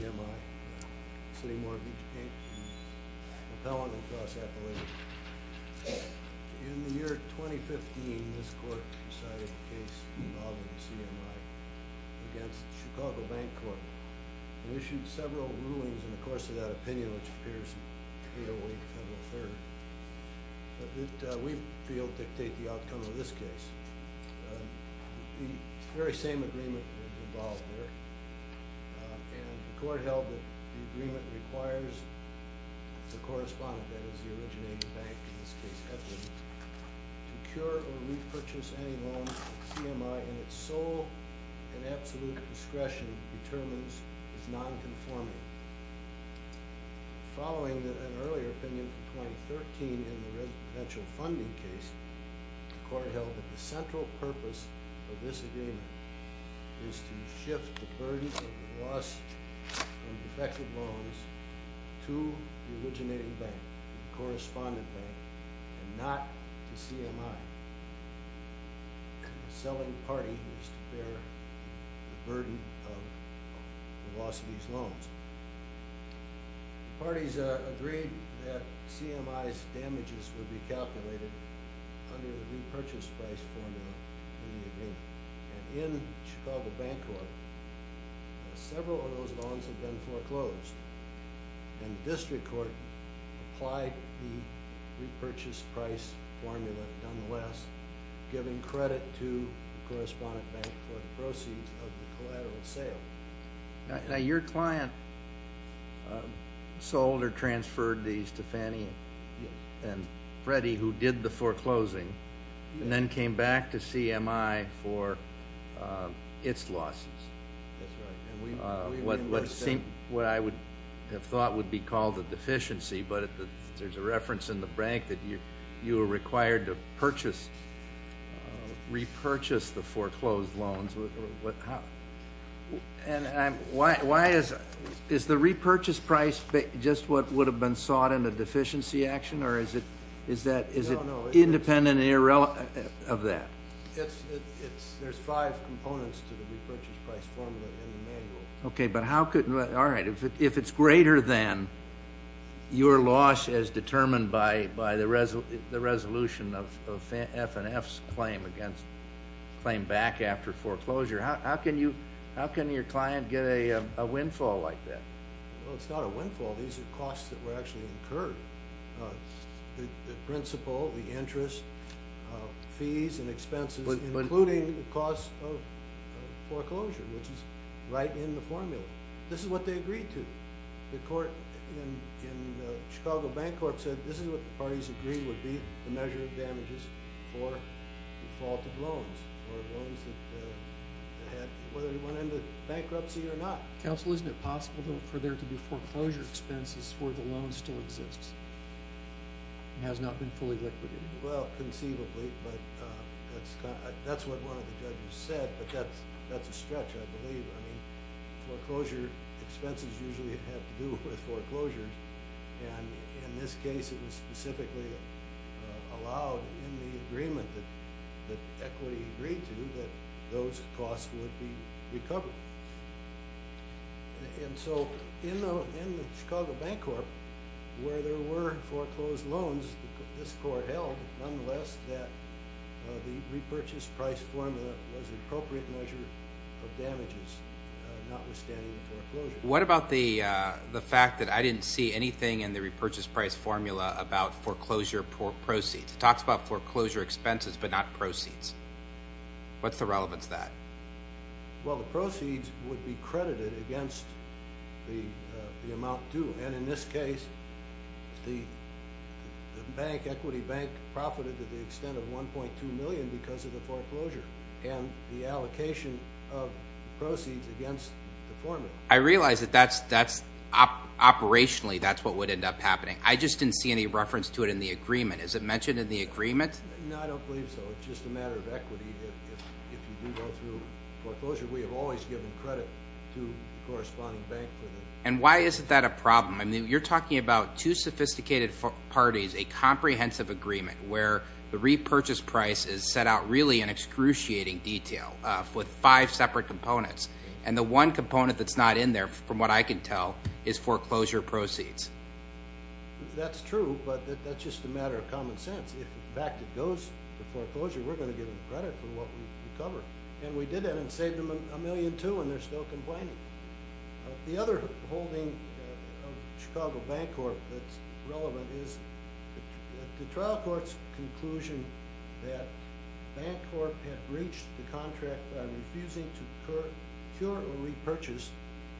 In the year 2015, this Court decided a case involving the CMI against Chicago Bank Corp. We issued several rulings in the course of that opinion, which appears in K08-Feb. 3. But we feel dictate the outcome of this case. The very same agreement is involved here. The Court held that the agreement requires the correspondent, that is, the originating bank, in this case, Equity, to cure or repurchase any loan that the CMI, in its sole and absolute discretion, determines is non-conforming. Following an earlier opinion from 2013 in the residential funding case, the Court held that the central purpose of this agreement is to shift the burden of the lost and defective loans to the originating bank, the correspondent bank, and not to CMI. The selling party is to bear the burden of the loss of these loans. The parties agreed that CMI's damages would be calculated under the repurchase price formula in the agreement. In Chicago Bank Corp., several of those loans have been foreclosed. And the District Court applied the repurchase price formula, nonetheless, giving credit to the correspondent bank for the proceeds of the collateral sale. Now, your client sold or transferred these to Fannie and Freddie, who did the foreclosing, and then came back to CMI for its losses. That's right. What I would have thought would be called a deficiency, but there's a reference in the bank that you were required to purchase, repurchase the foreclosed loans. And why is the repurchase price just what would have been sought in a deficiency action, or is it independent of that? There's five components to the repurchase price formula in the manual. Okay, but how could—all right. If it's greater than your loss as determined by the resolution of F&F's claim back after foreclosure, how can your client get a windfall like that? Well, it's not a windfall. These are costs that were actually incurred. The principal, the interest, fees, and expenses, including the cost of foreclosure, which is right in the formula. This is what they agreed to. The court in Chicago Bank Corp. said this is what the parties agreed would be the measure of damages for defaulted loans or loans that went into bankruptcy or not. Counsel, isn't it possible for there to be foreclosure expenses where the loan still exists and has not been fully liquidated? Well, conceivably, but that's what one of the judges said, but that's a stretch, I believe. I mean, foreclosure expenses usually have to do with foreclosures, and in this case, it was specifically allowed in the agreement that equity agreed to that those costs would be recovered. And so in the Chicago Bank Corp., where there were foreclosed loans, this court held, nonetheless, that the repurchase price formula was an appropriate measure of damages, notwithstanding the foreclosure. What about the fact that I didn't see anything in the repurchase price formula about foreclosure proceeds? It talks about foreclosure expenses but not proceeds. What's the relevance of that? Well, the proceeds would be credited against the amount due, and in this case, the bank, Equity Bank, profited to the extent of $1.2 million because of the foreclosure and the allocation of proceeds against the formula. I realize that, operationally, that's what would end up happening. I just didn't see any reference to it in the agreement. Is it mentioned in the agreement? No, I don't believe so. It's just a matter of equity. If you do go through foreclosure, we have always given credit to the corresponding bank. And why isn't that a problem? I mean, you're talking about two sophisticated parties, a comprehensive agreement, where the repurchase price is set out really in excruciating detail with five separate components, and the one component that's not in there, from what I can tell, is foreclosure proceeds. That's true, but that's just a matter of common sense. If, in fact, it goes to foreclosure, we're going to give them credit for what we cover. And we did that and saved them $1.2 million, and they're still complaining. The other holding of Chicago Bank Corp that's relevant is the trial court's conclusion that Bank Corp had breached the contract by refusing to procure or repurchase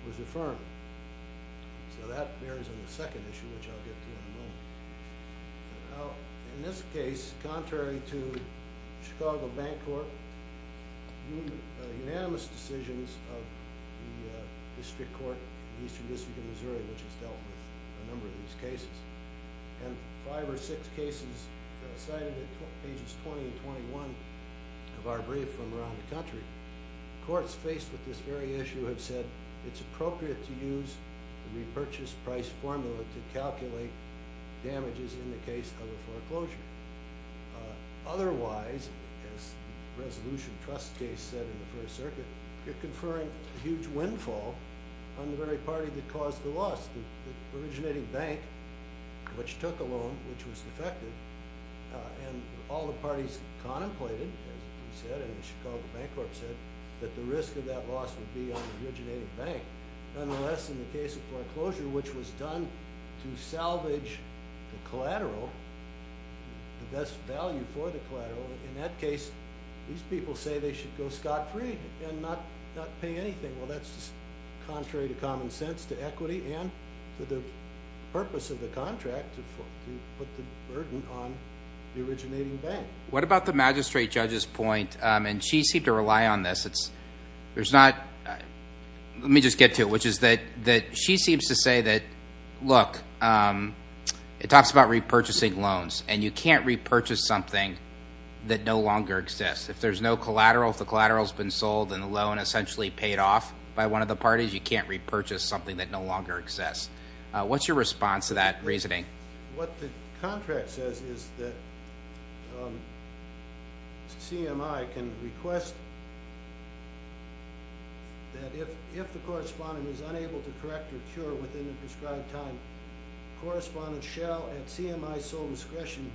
was affirmed. So that bears on the second issue, which I'll get to in a moment. In this case, contrary to Chicago Bank Corp, we made unanimous decisions of the district court in the Eastern District of Missouri, which has dealt with a number of these cases. And five or six cases cited in pages 20 and 21 of our brief from around the country. Courts faced with this very issue have said it's appropriate to use the repurchase price formula to calculate damages in the case of a foreclosure. Otherwise, as the resolution trust case said in the First Circuit, you're conferring a huge windfall on the very party that caused the loss, the originating bank, which took a loan, which was defected. And all the parties contemplated, as you said, and Chicago Bank Corp said, that the risk of that loss would be on the originating bank. Nonetheless, in the case of foreclosure, which was done to salvage the collateral, the best value for the collateral, in that case, these people say they should go scot-free and not pay anything. Well, that's just contrary to common sense, to equity, and to the purpose of the contract to put the burden on the originating bank. What about the magistrate judge's point? And she seemed to rely on this. Let me just get to it, which is that she seems to say that, look, it talks about repurchasing loans, and you can't repurchase something that no longer exists. If there's no collateral, if the collateral has been sold and the loan essentially paid off by one of the parties, you can't repurchase something that no longer exists. What's your response to that reasoning? What the contract says is that CMI can request that if the correspondent is unable to correct or cure within the prescribed time, the correspondent shall, at CMI's sole discretion,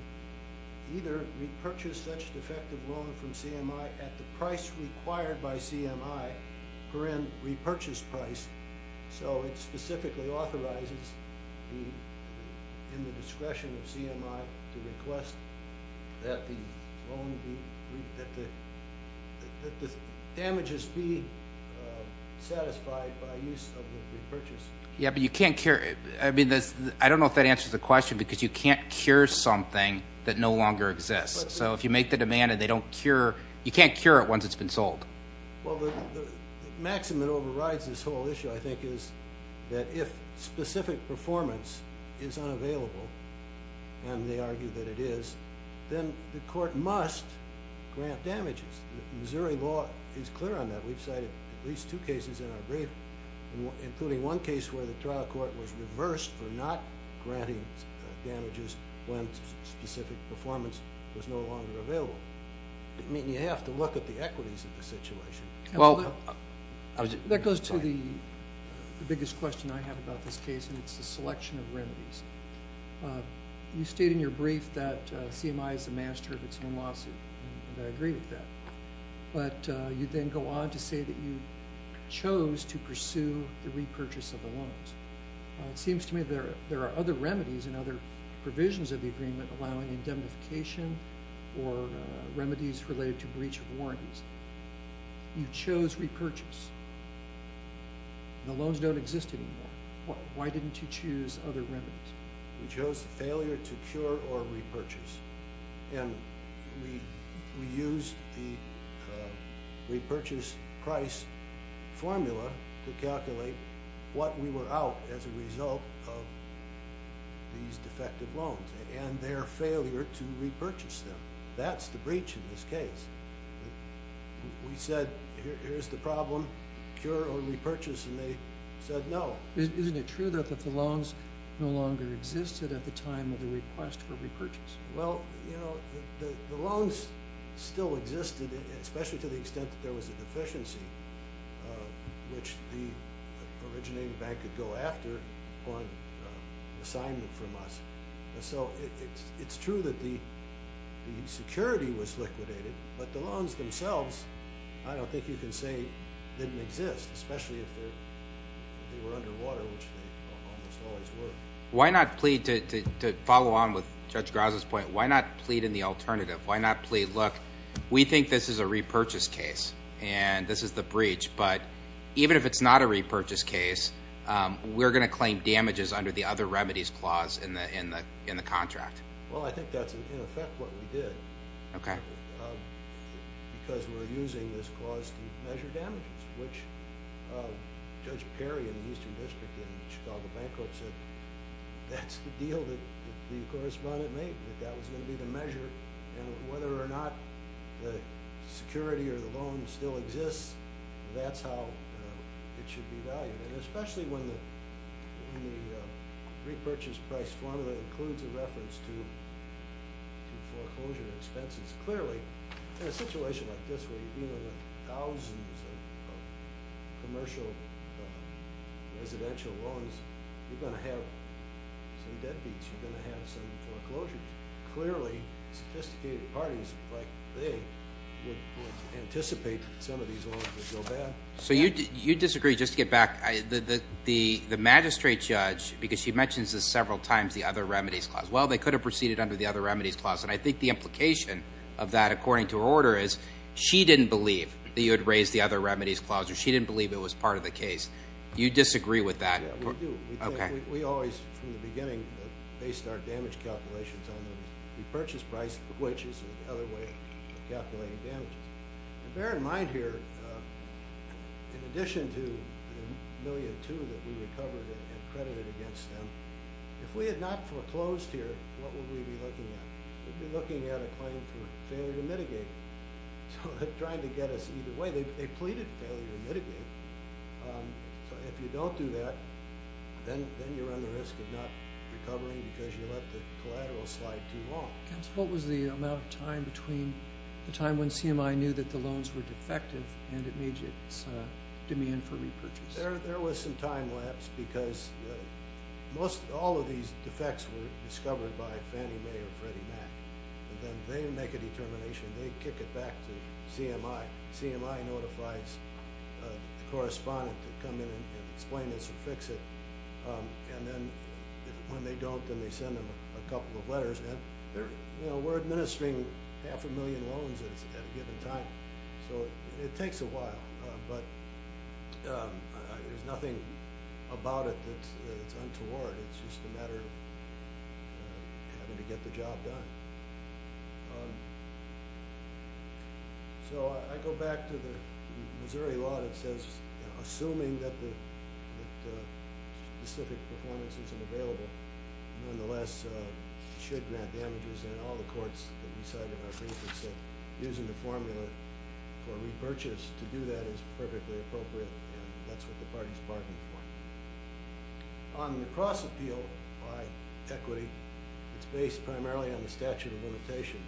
either repurchase such defective loan from CMI at the price required by CMI per in repurchase price. So it specifically authorizes in the discretion of CMI to request that the damages be satisfied by use of the repurchase. Yeah, but you can't cure it. I mean, I don't know if that answers the question because you can't cure something that no longer exists. So if you make the demand and they don't cure, you can't cure it once it's been sold. Well, the maxim that overrides this whole issue, I think, is that if specific performance is unavailable, and they argue that it is, then the court must grant damages. Missouri law is clear on that. We've cited at least two cases in our brief, including one case where the trial court was reversed for not granting damages when specific performance was no longer available. I mean, you have to look at the equities of the situation. That goes to the biggest question I have about this case, and it's the selection of remedies. You state in your brief that CMI is the master of its own lawsuit, and I agree with that. But you then go on to say that you chose to pursue the repurchase of the loans. It seems to me there are other remedies and other provisions of the agreement allowing indemnification or remedies related to breach of warranties. You chose repurchase. The loans don't exist anymore. Why didn't you choose other remedies? We chose failure to cure or repurchase. And we used the repurchase price formula to calculate what we were out as a result of these defective loans and their failure to repurchase them. That's the breach in this case. We said here's the problem, cure or repurchase, and they said no. Isn't it true that the loans no longer existed at the time of the request for repurchase? Well, you know, the loans still existed, especially to the extent that there was a deficiency, which the originating bank could go after on assignment from us. So it's true that the security was liquidated, but the loans themselves, I don't think you can say didn't exist, especially if they were underwater, which they almost always were. Why not plead, to follow on with Judge Graza's point, why not plead in the alternative? Why not plead, look, we think this is a repurchase case and this is the breach, but even if it's not a repurchase case, we're going to claim damages under the other remedies clause in the contract. Well, I think that's in effect what we did because we're using this clause to measure damages, which Judge Perry in the Eastern District in the Chicago Bank Court said that's the deal that the correspondent made, that that was going to be the measure, and whether or not the security or the loan still exists, that's how it should be valued, and especially when the repurchase price formula includes a reference to foreclosure expenses. Clearly, in a situation like this where you're dealing with thousands of commercial residential loans, you're going to have some deadbeats. You're going to have some foreclosures. Clearly, sophisticated parties like they would anticipate that some of these loans would go bad. So you disagree. Just to get back, the magistrate judge, because she mentions this several times, the other remedies clause. Well, they could have proceeded under the other remedies clause, and I think the implication of that, according to her order, is she didn't believe that you had raised the other remedies clause, or she didn't believe it was part of the case. You disagree with that. Yeah, we do. We always, from the beginning, based our damage calculations on the repurchase price, which is another way of calculating damages. Bear in mind here, in addition to the $1.2 million that we recovered and credited against them, if we had not foreclosed here, what would we be looking at? We'd be looking at a claim for failure to mitigate. So they're trying to get us either way. They pleaded failure to mitigate. So if you don't do that, then you're on the risk of not recovering because you let the collateral slide too long. What was the amount of time between the time when CMI knew that the loans were defective and it made its demand for repurchase? There was some time lapse, because all of these defects were discovered by Fannie Mae or Freddie Mac, and then they make a determination. They kick it back to CMI. CMI notifies the correspondent to come in and explain this or fix it, and then when they don't, then they send them a couple of letters. We're administering half a million loans at a given time, so it takes a while, but there's nothing about it that's untoward. It's just a matter of having to get the job done. So I go back to the Missouri law that says assuming that specific performances are available, nonetheless should grant damages. And in all the courts that we cite in our briefings, using the formula for repurchase to do that is perfectly appropriate, and that's what the party is bargaining for. On the cross-appeal by equity, it's based primarily on the statute of limitations.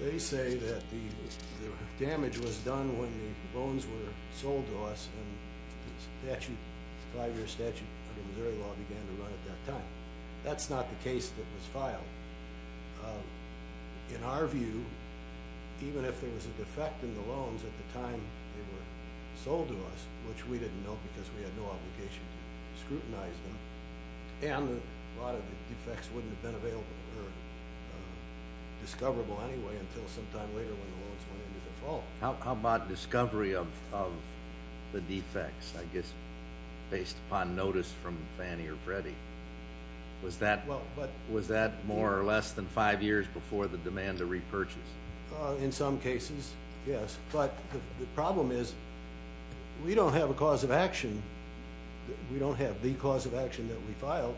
They say that the damage was done when the loans were sold to us, and the five-year statute of the Missouri law began to run at that time. That's not the case that was filed. In our view, even if there was a defect in the loans at the time they were sold to us, which we didn't know because we had no obligation to scrutinize them, and a lot of the defects wouldn't have been available or discoverable anyway until sometime later when the loans went into default. How about discovery of the defects, I guess, based upon notice from Fannie or Freddie? Was that more or less than five years before the demand to repurchase? In some cases, yes. But the problem is we don't have a cause of action. We don't have the cause of action that we filed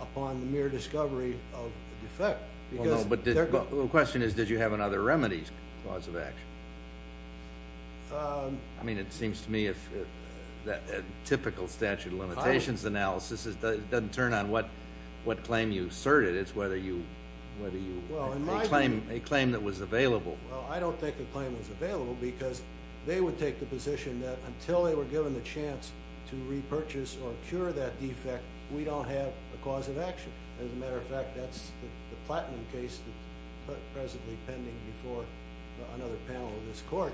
upon the mere discovery of the defect. The question is, did you have another remedy's cause of action? It seems to me that a typical statute of limitations analysis doesn't turn on what claim you asserted. It's whether you made a claim that was available. I don't think the claim was available because they would take the position that until they were given the chance to repurchase or cure that defect, we don't have a cause of action. As a matter of fact, that's the platinum case that's presently pending before another panel of this court.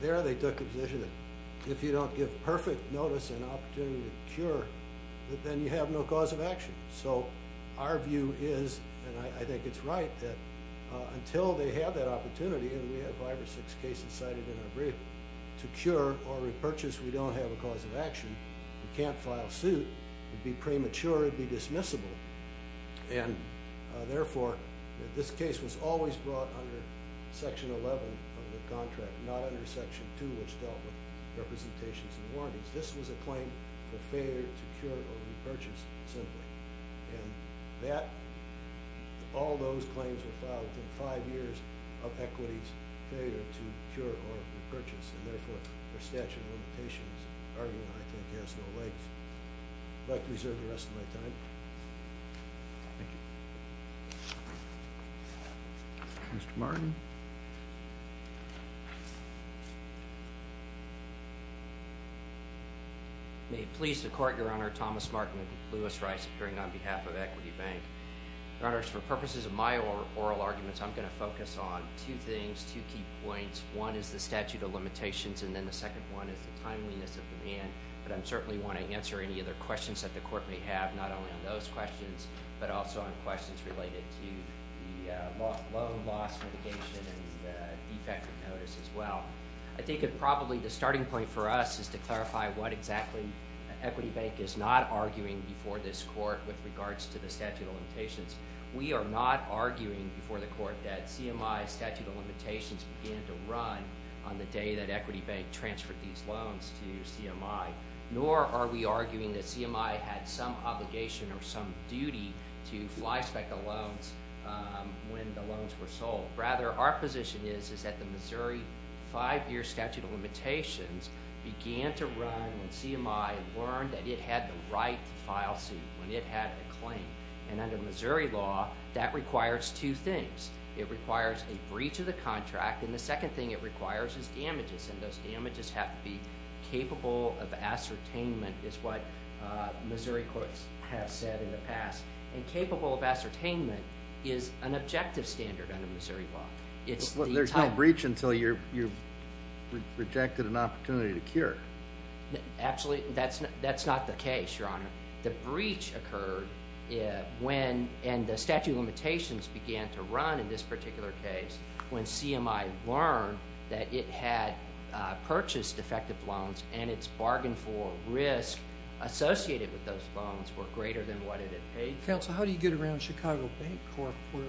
There they took the position that if you don't give perfect notice and opportunity to cure, then you have no cause of action. Our view is, and I think it's right, that until they have that opportunity, and we have five or six cases cited in our brief, to cure or repurchase, we don't have a cause of action. We can't file suit. It would be premature. It would be dismissible. Therefore, this case was always brought under Section 11 of the contract, not under Section 2, which dealt with representations and warranties. This was a claim for failure to cure or repurchase, simply. And that, all those claims were filed within five years of equity's failure to cure or repurchase. And therefore, the statute of limitations argument, I think, has no legs. I'd like to reserve the rest of my time. Thank you. Mr. Martin? May it please the Court, Your Honor. Thomas Martin, Lewis Rice, appearing on behalf of Equity Bank. Your Honors, for purposes of my oral arguments, I'm going to focus on two things, two key points. One is the statute of limitations, and then the second one is the timeliness of demand. But I certainly want to answer any other questions that the Court may have, not only on those questions but also on questions related to the loan loss litigation and the defect of notice as well. I think that probably the starting point for us is to clarify what exactly Equity Bank is not arguing before this Court with regards to the statute of limitations. We are not arguing before the Court that CMI's statute of limitations began to run on the day that Equity Bank transferred these loans to CMI, nor are we arguing that CMI had some obligation or some duty to flyspeck the loans when the loans were sold. Rather, our position is that the Missouri five-year statute of limitations began to run when CMI learned that it had the right to file suit, when it had a claim. And under Missouri law, that requires two things. It requires a breach of the contract, and the second thing it requires is damages, and those damages have to be capable of ascertainment, is what Missouri courts have said in the past. And capable of ascertainment is an objective standard under Missouri law. There's no breach until you've rejected an opportunity to cure. Actually, that's not the case, Your Honor. The breach occurred when the statute of limitations began to run in this particular case when CMI learned that it had purchased defective loans and its bargain for risk associated with those loans were greater than what it had paid. Counsel, how do you get around Chicago Bank Corp., where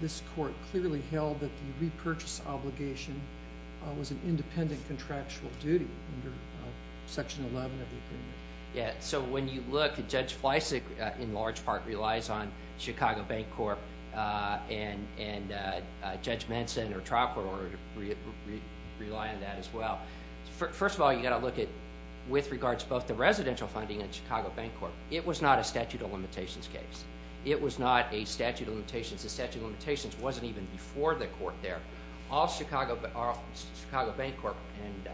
this court clearly held that the repurchase obligation was an independent contractual duty under Section 11 of the agreement? Yeah, so when you look, Judge Fleisig, in large part, relies on Chicago Bank Corp., and Judge Manson or Tropper rely on that as well. First of all, you've got to look at, with regards to both the residential funding and Chicago Bank Corp., it was not a statute of limitations case. It was not a statute of limitations. The statute of limitations wasn't even before the court there. All Chicago Bank Corp. and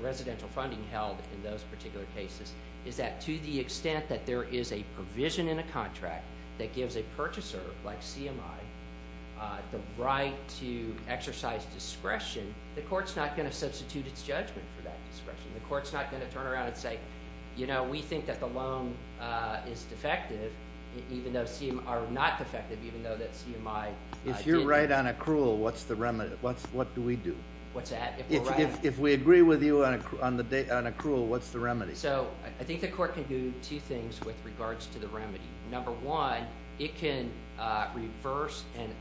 residential funding held in those particular cases is that to the extent that there is a provision in a contract that gives a purchaser, like CMI, the right to exercise discretion, the court's not going to substitute its judgment for that discretion. The court's not going to turn around and say, you know, we think that the loan is defective, even though CMI—or not defective, even though that CMI— If you're right on accrual, what's the remedy? What do we do? What's that? If we agree with you on accrual, what's the remedy? So I think the court can do two things with regards to the remedy. Number one, it can reverse and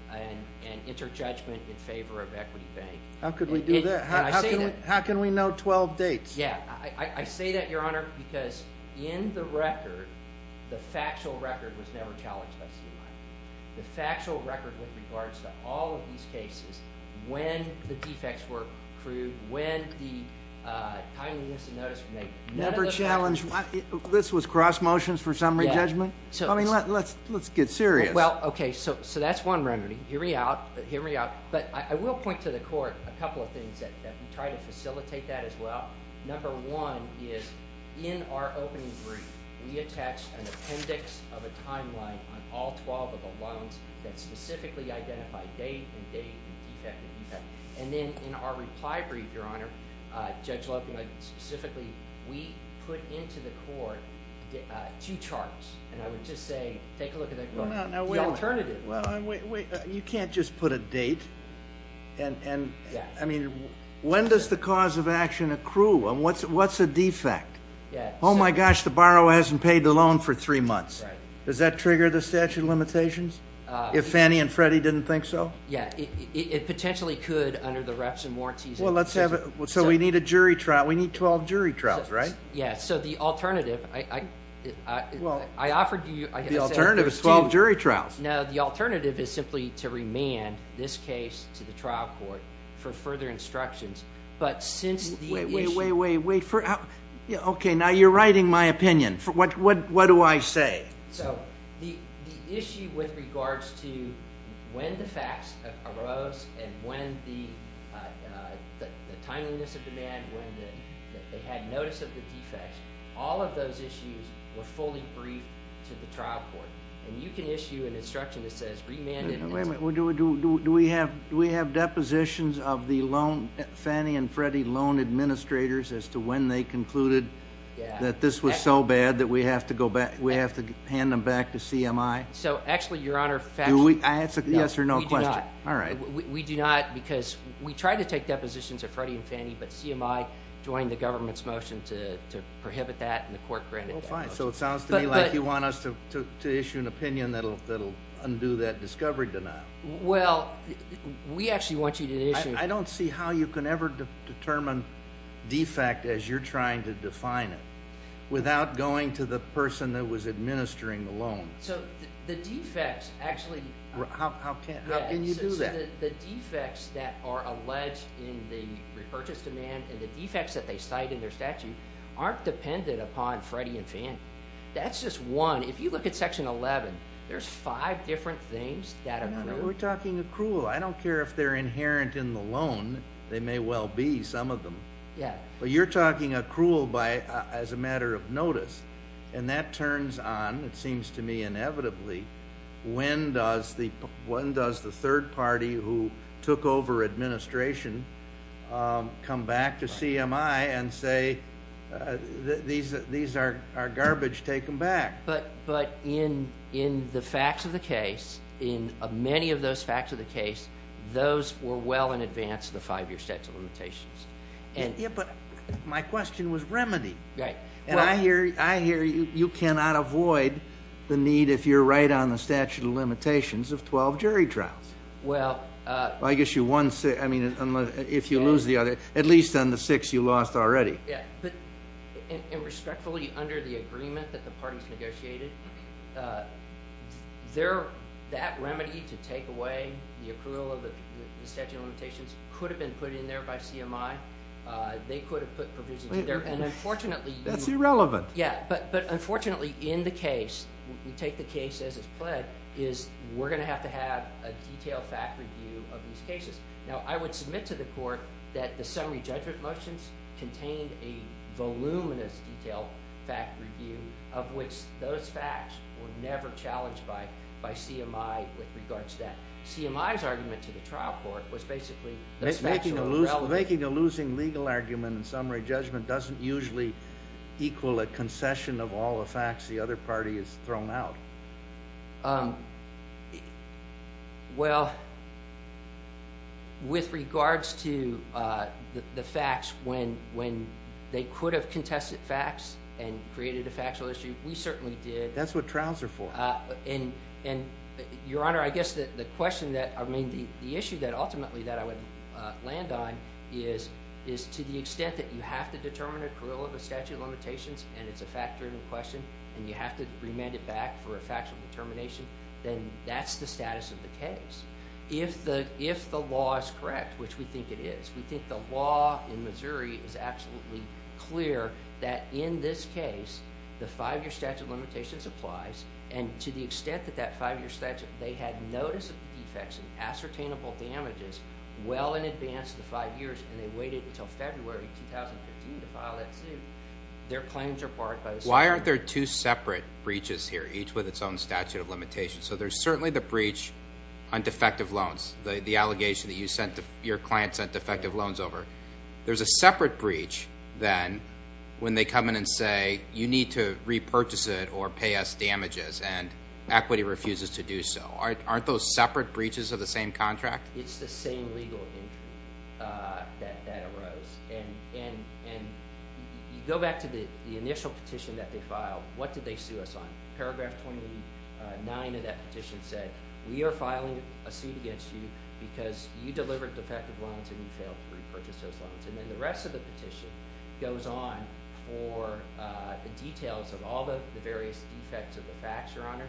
enter judgment in favor of Equity Bank. How could we do that? How can we know 12 dates? Yeah, I say that, Your Honor, because in the record, the factual record was never challenged by CMI. The factual record with regards to all of these cases, when the defects were accrued, when the timeliness of notice was made, never challenged—this was cross motions for summary judgment? I mean, let's get serious. Well, okay, so that's one remedy. Hear me out. But I will point to the court a couple of things that we try to facilitate that as well. Number one is, in our opening brief, we attached an appendix of a timeline on all 12 of the loans that specifically identified date and date and defect and defect. And then in our reply brief, Your Honor, Judge Loeb specifically, we put into the court two charts. And I would just say, take a look at that. The alternative. Well, you can't just put a date. I mean, when does the cause of action accrue? What's a defect? Oh, my gosh, the borrower hasn't paid the loan for three months. Does that trigger the statute of limitations if Fannie and Freddie didn't think so? Yeah, it potentially could under the reps and warranties. Well, let's have it. So we need a jury trial. We need 12 jury trials, right? Yeah. So the alternative, I offered you. The alternative is 12 jury trials. No, the alternative is simply to remand this case to the trial court for further instructions. But since the issue. Wait, wait, wait, wait. Okay, now you're writing my opinion. What do I say? So the issue with regards to when the facts arose and when the timeliness of demand, when they had notice of the defects, all of those issues were fully briefed to the trial court. And you can issue an instruction that says remand it. Wait a minute. Do we have depositions of the Fannie and Freddie loan administrators as to when they concluded that this was so bad that we have to hand them back to CMI? So actually, Your Honor. Do we? Yes or no question. We do not. All right. We do not because we tried to take depositions of Freddie and Fannie, but CMI joined the government's motion to prohibit that and the court granted that. Well, fine. So it sounds to me like you want us to issue an opinion that will undo that discovery denial. Well, we actually want you to issue. I don't see how you can ever determine defect as you're trying to define it without going to the person that was administering the loan. So the defects actually. How can you do that? The defects that are alleged in the repurchase demand and the defects that they cite in their statute aren't dependent upon Freddie and Fannie. That's just one. If you look at Section 11, there's five different things that accrue. We're talking accrual. I don't care if they're inherent in the loan. They may well be, some of them. Yeah. But you're talking accrual as a matter of notice. And that turns on, it seems to me, inevitably, when does the third party who took over administration come back to CMI and say these are garbage, take them back. But in the facts of the case, in many of those facts of the case, those were well in advance of the five-year statute of limitations. Yeah, but my question was remedy. Right. And I hear you cannot avoid the need, if you're right on the statute of limitations, of 12 jury trials. Well. I guess if you lose the other, at least on the six you lost already. And respectfully, under the agreement that the parties negotiated, that remedy to take away the accrual of the statute of limitations could have been put in there by CMI. They could have put provisions in there. That's irrelevant. Yeah. But unfortunately, in the case, we take the case as it's pled, is we're going to have to have a detailed fact review of these cases. Now, I would submit to the court that the summary judgment motions contained a voluminous detailed fact review of which those facts were never challenged by CMI with regards to that. CMI's argument to the trial court was basically the facts were irrelevant. Making a losing legal argument in summary judgment doesn't usually equal a concession of all the facts the other party has thrown out. Well, with regards to the facts, when they could have contested facts and created a factual issue, we certainly did. That's what trials are for. And, Your Honor, I guess the question that, I mean, the issue that ultimately that I would land on is to the extent that you have to determine accrual of the statute of limitations, and it's a fact-driven question, and you have to remand it back for a factual determination, then that's the status of the case. If the law is correct, which we think it is, we think the law in Missouri is absolutely clear that in this case, the five-year statute of limitations applies, and to the extent that that five-year statute, they had notice of defects and ascertainable damages well in advance of the five years, and they waited until February 2015 to file that suit, their claims are barred by the statute. Why aren't there two separate breaches here, each with its own statute of limitations? So there's certainly the breach on defective loans, the allegation that your client sent defective loans over. There's a separate breach then when they come in and say, you need to repurchase it or pay us damages, and equity refuses to do so. Aren't those separate breaches of the same contract? It's the same legal injury that arose. And you go back to the initial petition that they filed. What did they sue us on? Paragraph 29 of that petition said, we are filing a suit against you because you delivered defective loans and you failed to repurchase those loans. And then the rest of the petition goes on for the details of all the various defects of the facts, Your Honor.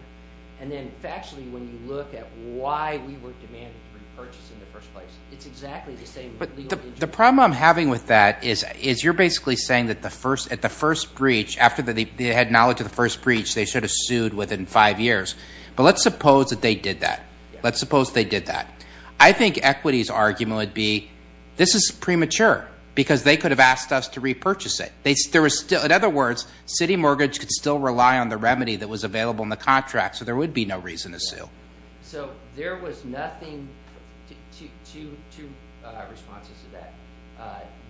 And then factually, when you look at why we were demanded to repurchase in the first place, it's exactly the same legal injury. The problem I'm having with that is you're basically saying that the first breach, after they had knowledge of the first breach, they should have sued within five years. But let's suppose that they did that. Let's suppose they did that. I think equity's argument would be this is premature because they could have asked us to repurchase it. In other words, city mortgage could still rely on the remedy that was available in the contract, so there would be no reason to sue. So there was nothing to responses to that.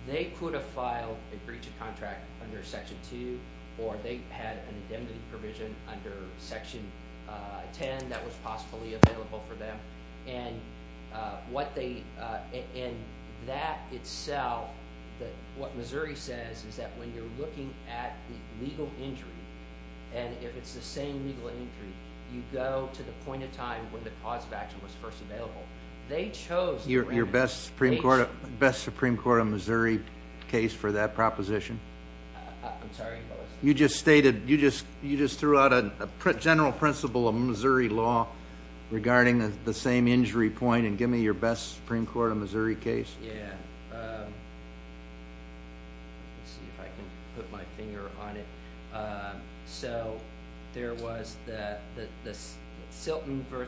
They could have filed a breach of contract under Section 2, or they had an indemnity provision under Section 10 that was possibly available for them. And what they – and that itself, what Missouri says is that when you're looking at the legal injury, and if it's the same legal injury, you go to the point in time when the cause of action was first available. They chose the remedy. Your best Supreme Court of Missouri case for that proposition? I'm sorry? You just stated – you just threw out a general principle of Missouri law regarding the same injury point and give me your best Supreme Court of Missouri case? Yeah. Let's see if I can put my finger on it. So there was the Silton v.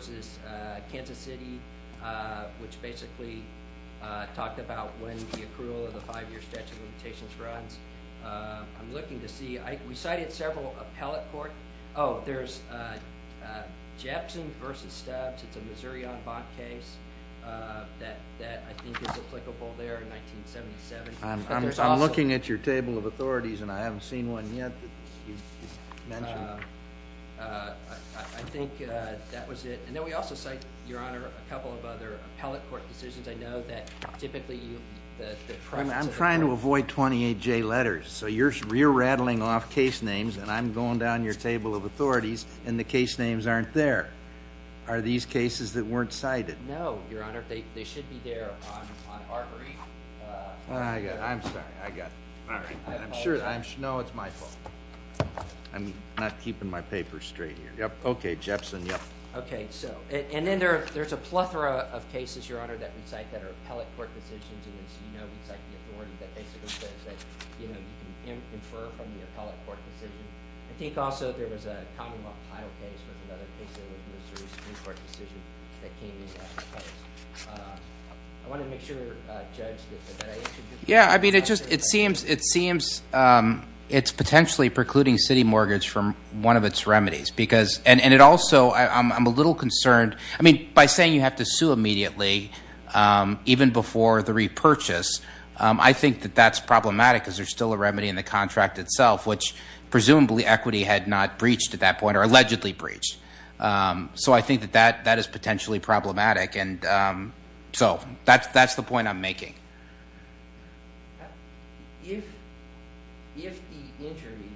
Kansas City, which basically talked about when the accrual of the five-year statute of limitations runs. I'm looking to see – we cited several appellate court – oh, there's Jepson v. Stubbs. It's a Missouri en banc case that I think is applicable there in 1977. I'm looking at your table of authorities, and I haven't seen one yet that you mentioned. I think that was it. And then we also cite, Your Honor, a couple of other appellate court decisions. I know that typically the – I'm trying to avoid 28J letters. So you're re-rattling off case names, and I'm going down your table of authorities, and the case names aren't there. Are these cases that weren't cited? No, Your Honor. They should be there on our brief. I'm sorry. I got it. All right. I'm sure – no, it's my fault. I'm not keeping my papers straight here. Yep. Okay. Jepson. Yep. Okay. So – and then there's a plethora of cases, Your Honor, that we cite that are appellate court decisions. And as you know, we cite the authority that basically says that you can infer from the appellate court decision. I think also there was a County of Ohio case was another case that was a court decision that came in. I want to make sure, Judge, that I answered your question. Yeah. I mean, it just – it seems it's potentially precluding city mortgage from one of its remedies because – and it also – I'm a little concerned. I mean, by saying you have to sue immediately, even before the repurchase, I think that that's problematic because there's still a remedy in the contract itself, which presumably equity had not breached at that point or allegedly breached. So I think that that is potentially problematic. And so that's the point I'm making. If the injury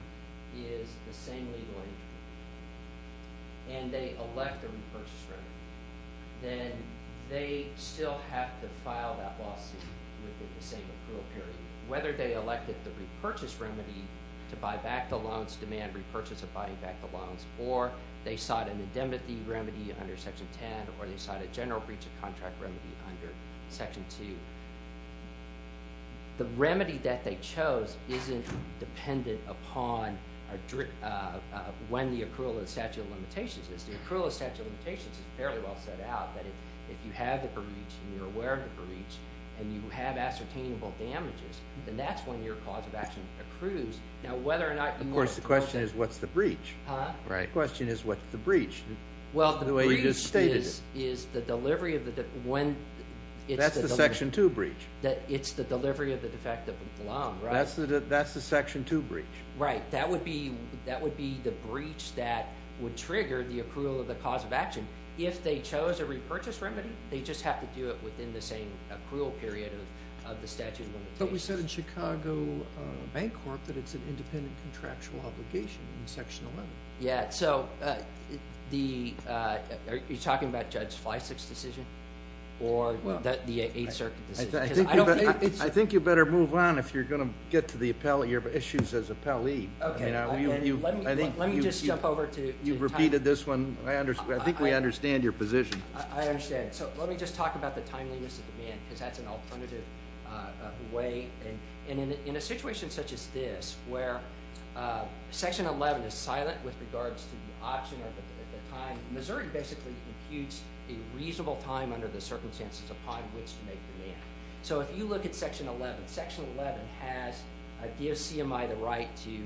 is the same legal injury and they elect a repurchase remedy, then they still have to file that lawsuit within the same approval period. Whether they elected the repurchase remedy to buy back the loans, which is demand repurchase of buying back the loans, or they sought an indemnity remedy under Section 10, or they sought a general breach of contract remedy under Section 2. The remedy that they chose isn't dependent upon when the accrual of the statute of limitations is. The accrual of the statute of limitations is fairly well set out that if you have the breach and you're aware of the breach and you have ascertainable damages, then that's when your cause of action accrues. Of course, the question is what's the breach? The question is what's the breach? The way you just stated it. That's the Section 2 breach. It's the delivery of the defective loan. That's the Section 2 breach. Right. That would be the breach that would trigger the accrual of the cause of action. If they chose a repurchase remedy, they just have to do it within the same accrual period of the statute of limitations. But we said in Chicago Bank Corp that it's an independent contractual obligation in Section 11. Are you talking about Judge Fleisig's decision or the Eighth Circuit decision? I think you better move on if you're going to get to the issues as appellee. Okay. Let me just jump over to your time. You've repeated this one. I think we understand your position. I understand. Let me just talk about the timeliness of demand because that's an alternative way. And in a situation such as this where Section 11 is silent with regards to the option at the time, Missouri basically imputes a reasonable time under the circumstances upon which to make demand. So if you look at Section 11, Section 11 gives CMI the right to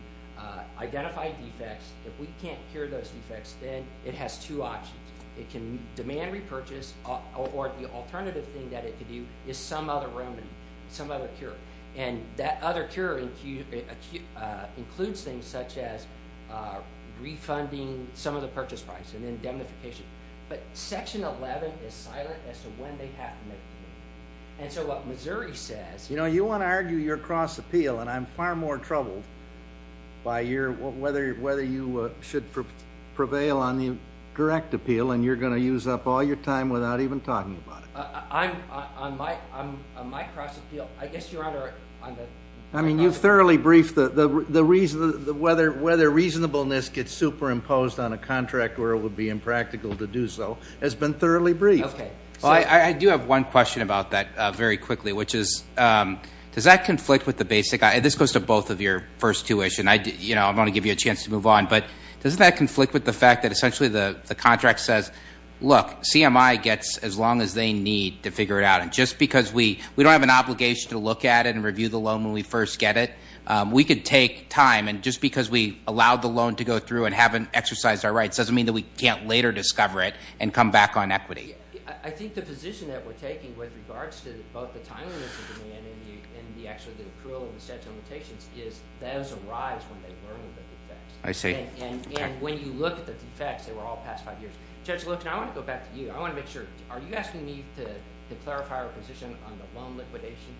identify defects. If we can't cure those defects, then it has two options. It can demand repurchase, or the alternative thing that it can do is some other remedy, some other cure. And that other cure includes things such as refunding some of the purchase price and then indemnification. But Section 11 is silent as to when they have to make the appeal. And so what Missouri says – You know, you want to argue your cross appeal, and I'm far more troubled by whether you should prevail on the direct appeal and you're going to use up all your time without even talking about it. On my cross appeal, I guess you're under – I mean, you've thoroughly briefed the – whether reasonableness gets superimposed on a contract where it would be impractical to do so has been thoroughly briefed. Okay. I do have one question about that very quickly, which is does that conflict with the basic – and this goes to both of your first two-ish, and I want to give you a chance to move on. But does that conflict with the fact that essentially the contract says, look, CMI gets as long as they need to figure it out. And just because we don't have an obligation to look at it and review the loan when we first get it, we could take time. And just because we allowed the loan to go through and haven't exercised our rights doesn't mean that we can't later discover it and come back on equity. I think the position that we're taking with regards to both the timeliness of demand and the actual approval of the statute of limitations is those arise when they learn of the defects. I see. And when you look at the defects, they were all past five years. Judge Loebsack, I want to go back to you. I want to make sure – are you asking me to clarify our position on the loan liquidation?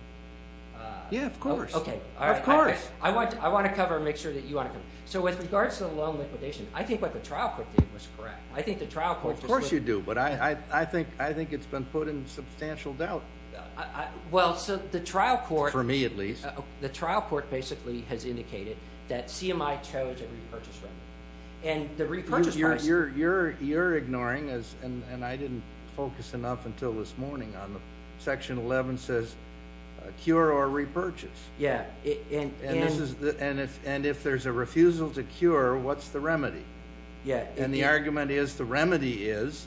Yeah, of course. Okay. Of course. I want to cover and make sure that you want to cover. So with regards to the loan liquidation, I think what the trial court did was correct. I think the trial court just – Of course you do, but I think it's been put in substantial doubt. Well, so the trial court – For me at least. The trial court basically has indicated that CMI chose a repurchase remedy. And the repurchase policy – You're ignoring, and I didn't focus enough until this morning on the – Section 11 says cure or repurchase. Yeah. And if there's a refusal to cure, what's the remedy? And the argument is the remedy is,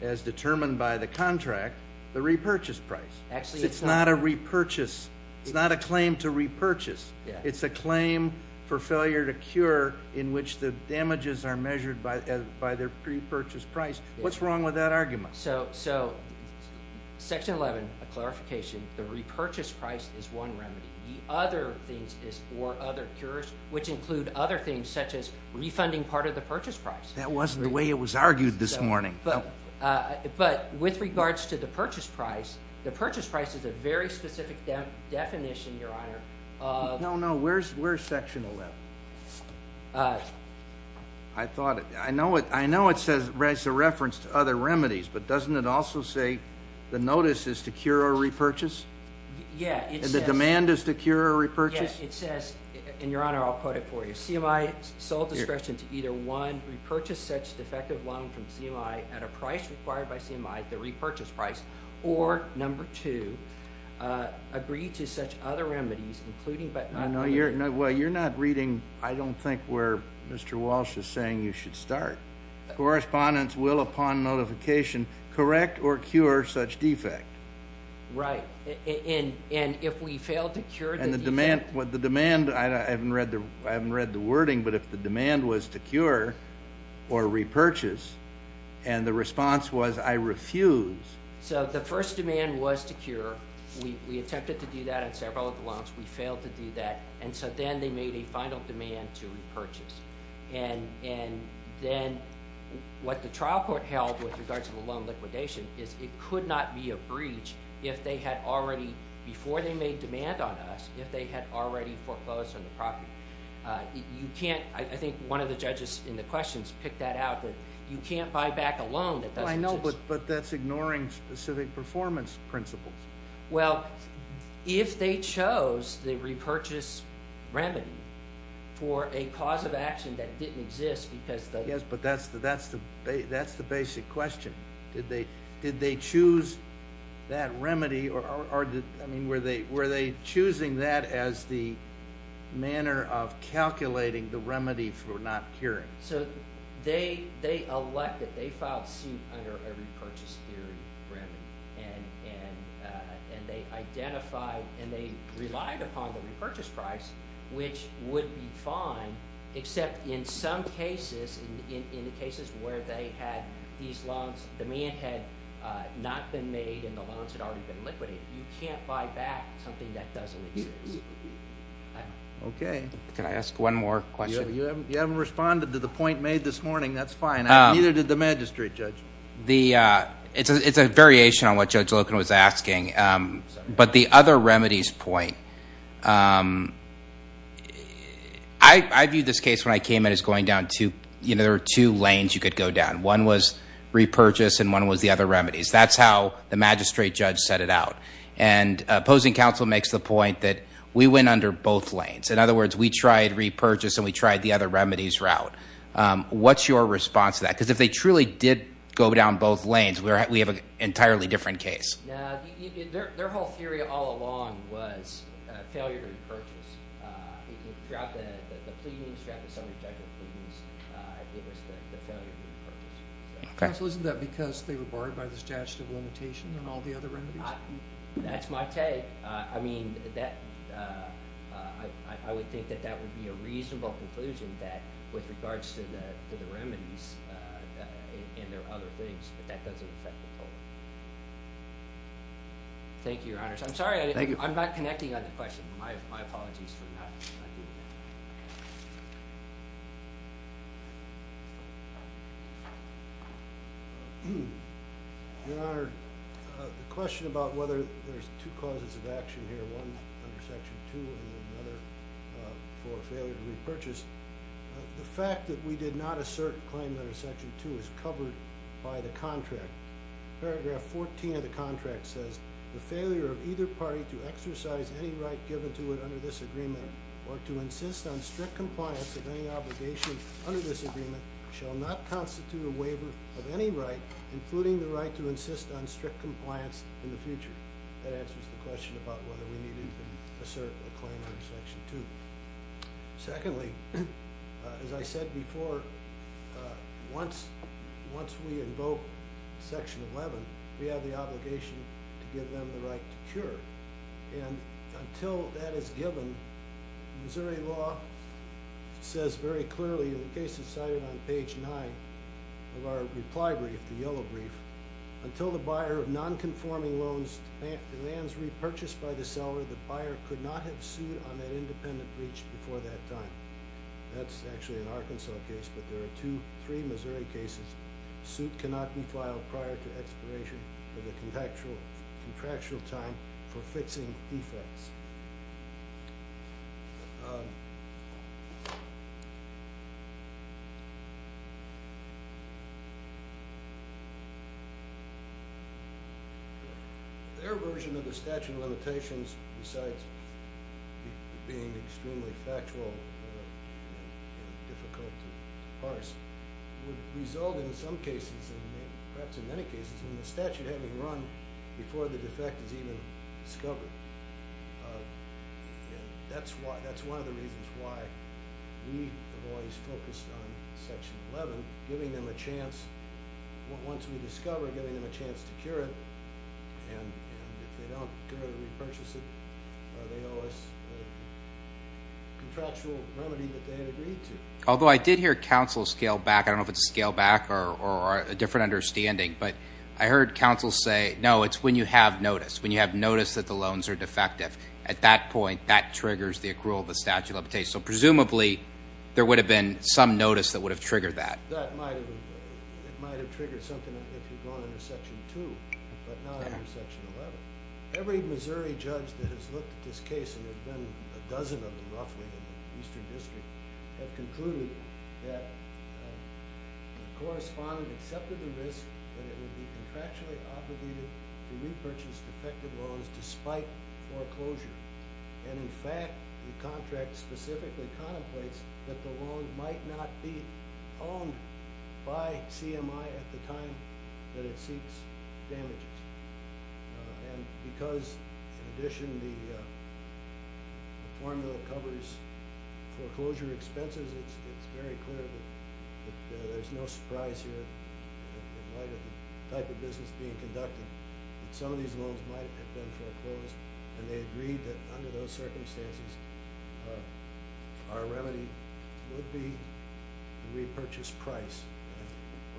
as determined by the contract, the repurchase price. Actually, it's not a repurchase. It's not a claim to repurchase. It's a claim for failure to cure in which the damages are measured by the repurchase price. What's wrong with that argument? So Section 11, a clarification, the repurchase price is one remedy. The other thing is for other cures, which include other things such as refunding part of the purchase price. That wasn't the way it was argued this morning. But with regards to the purchase price, the purchase price is a very specific definition, Your Honor, of – No, no, where's Section 11? I thought – I know it says it's a reference to other remedies, but doesn't it also say the notice is to cure or repurchase? Yeah, it says – And the demand is to cure or repurchase? Yes, it says, and, Your Honor, I'll quote it for you. CMI, sole discretion to either, one, repurchase such defective lung from CMI at a price required by CMI, the repurchase price, or, number two, agree to such other remedies, including but not – No, you're – well, you're not reading, I don't think, where Mr. Walsh is saying you should start. Correspondence will, upon notification, correct or cure such defect. Right, and if we fail to cure the defect – And the demand – I haven't read the wording, but if the demand was to cure or repurchase, and the response was, I refuse – So the first demand was to cure. We attempted to do that on several of the lungs. We failed to do that, and so then they made a final demand to repurchase. And then what the trial court held with regards to the lung liquidation is it could not be a breach if they had already, before they made demand on us, if they had already foreclosed on the property. You can't – I think one of the judges in the questions picked that out, that you can't buy back a loan that doesn't – Well, I know, but that's ignoring specific performance principles. Well, if they chose the repurchase remedy for a cause of action that didn't exist because – Yes, but that's the basic question. Did they choose that remedy, or were they choosing that as the manner of calculating the remedy for not curing? So they elected – they filed suit under a repurchase theory remedy, and they identified and they relied upon the repurchase price, which would be fine except in some cases, in the cases where they had these lungs, demand had not been made and the lungs had already been liquidated. You can't buy back something that doesn't exist. Okay. Can I ask one more question? You haven't responded to the point made this morning. That's fine. Neither did the magistrate judge. It's a variation on what Judge Loken was asking, but the other remedies point – I viewed this case when I came in as going down two – there were two lanes you could go down. One was repurchase, and one was the other remedies. That's how the magistrate judge set it out. And opposing counsel makes the point that we went under both lanes. In other words, we tried repurchase and we tried the other remedies route. What's your response to that? Because if they truly did go down both lanes, we have an entirely different case. No, their whole theory all along was failure to repurchase. Throughout the pleadings, throughout the summary judgment pleadings, it was the failure to repurchase. Counsel, isn't that because they were barred by the statute of limitations on all the other remedies? That's my take. I mean, I would think that that would be a reasonable conclusion that with regards to the remedies and their other things that that doesn't affect the total. Thank you, Your Honors. I'm sorry. I'm not connecting on the question. My apologies for not doing that. Your Honor, the question about whether there's two causes of action here, one under Section 2 and another for failure to repurchase, the fact that we did not assert a claim under Section 2 is covered by the contract. Paragraph 14 of the contract says, the failure of either party to exercise any right given to it under this agreement or to insist on strict compliance of any obligation under this agreement shall not constitute a waiver of any right including the right to insist on strict compliance in the future. That answers the question about whether we needed to assert a claim under Section 2. Secondly, as I said before, once we invoke Section 11, we have the obligation to give them the right to cure. And until that is given, Missouri law says very clearly, and the case is cited on page 9 of our reply brief, the yellow brief, until the buyer of nonconforming loans demands repurchase by the seller, the buyer could not have sued on that independent breach before that time. That's actually an Arkansas case, but there are two, three Missouri cases. The suit cannot be filed prior to expiration of the contractual time for fixing defects. Their version of the statute of limitations, besides being extremely factual and difficult to parse, would result in some cases, perhaps in many cases, in the statute having run before the defect is even discovered. That's one of the reasons why we have always focused on Section 11, giving them a chance, once we discover, giving them a chance to cure it. And if they don't go to repurchase it, they owe us a contractual remedy that they had agreed to. Although I did hear counsel scale back. I don't know if it's scale back or a different understanding. But I heard counsel say, no, it's when you have notice, when you have notice that the loans are defective. At that point, that triggers the accrual of the statute of limitations. So presumably there would have been some notice that would have triggered that. That might have triggered something if you'd gone under Section 2, but not under Section 11. Every Missouri judge that has looked at this case, and there have been a dozen of them roughly in the Eastern District, have concluded that the correspondent accepted the risk that it would be contractually obligated to repurchase defective loans despite foreclosure. And in fact, the contract specifically contemplates that the loan might not be owned by CMI at the time that it seeks damages. And because, in addition, the formula covers foreclosure expenses, it's very clear that there's no surprise here. It might have been the type of business being conducted that some of these loans might have been foreclosed. And they agreed that under those circumstances, our remedy would be the repurchase price,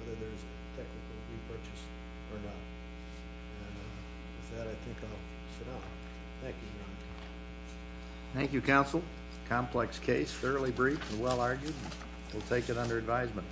whether there's a technical repurchase or not. And with that, I think I'll sit down. Thank you. Thank you, counsel. Complex case. Thoroughly brief and well argued. We'll take it under advisement.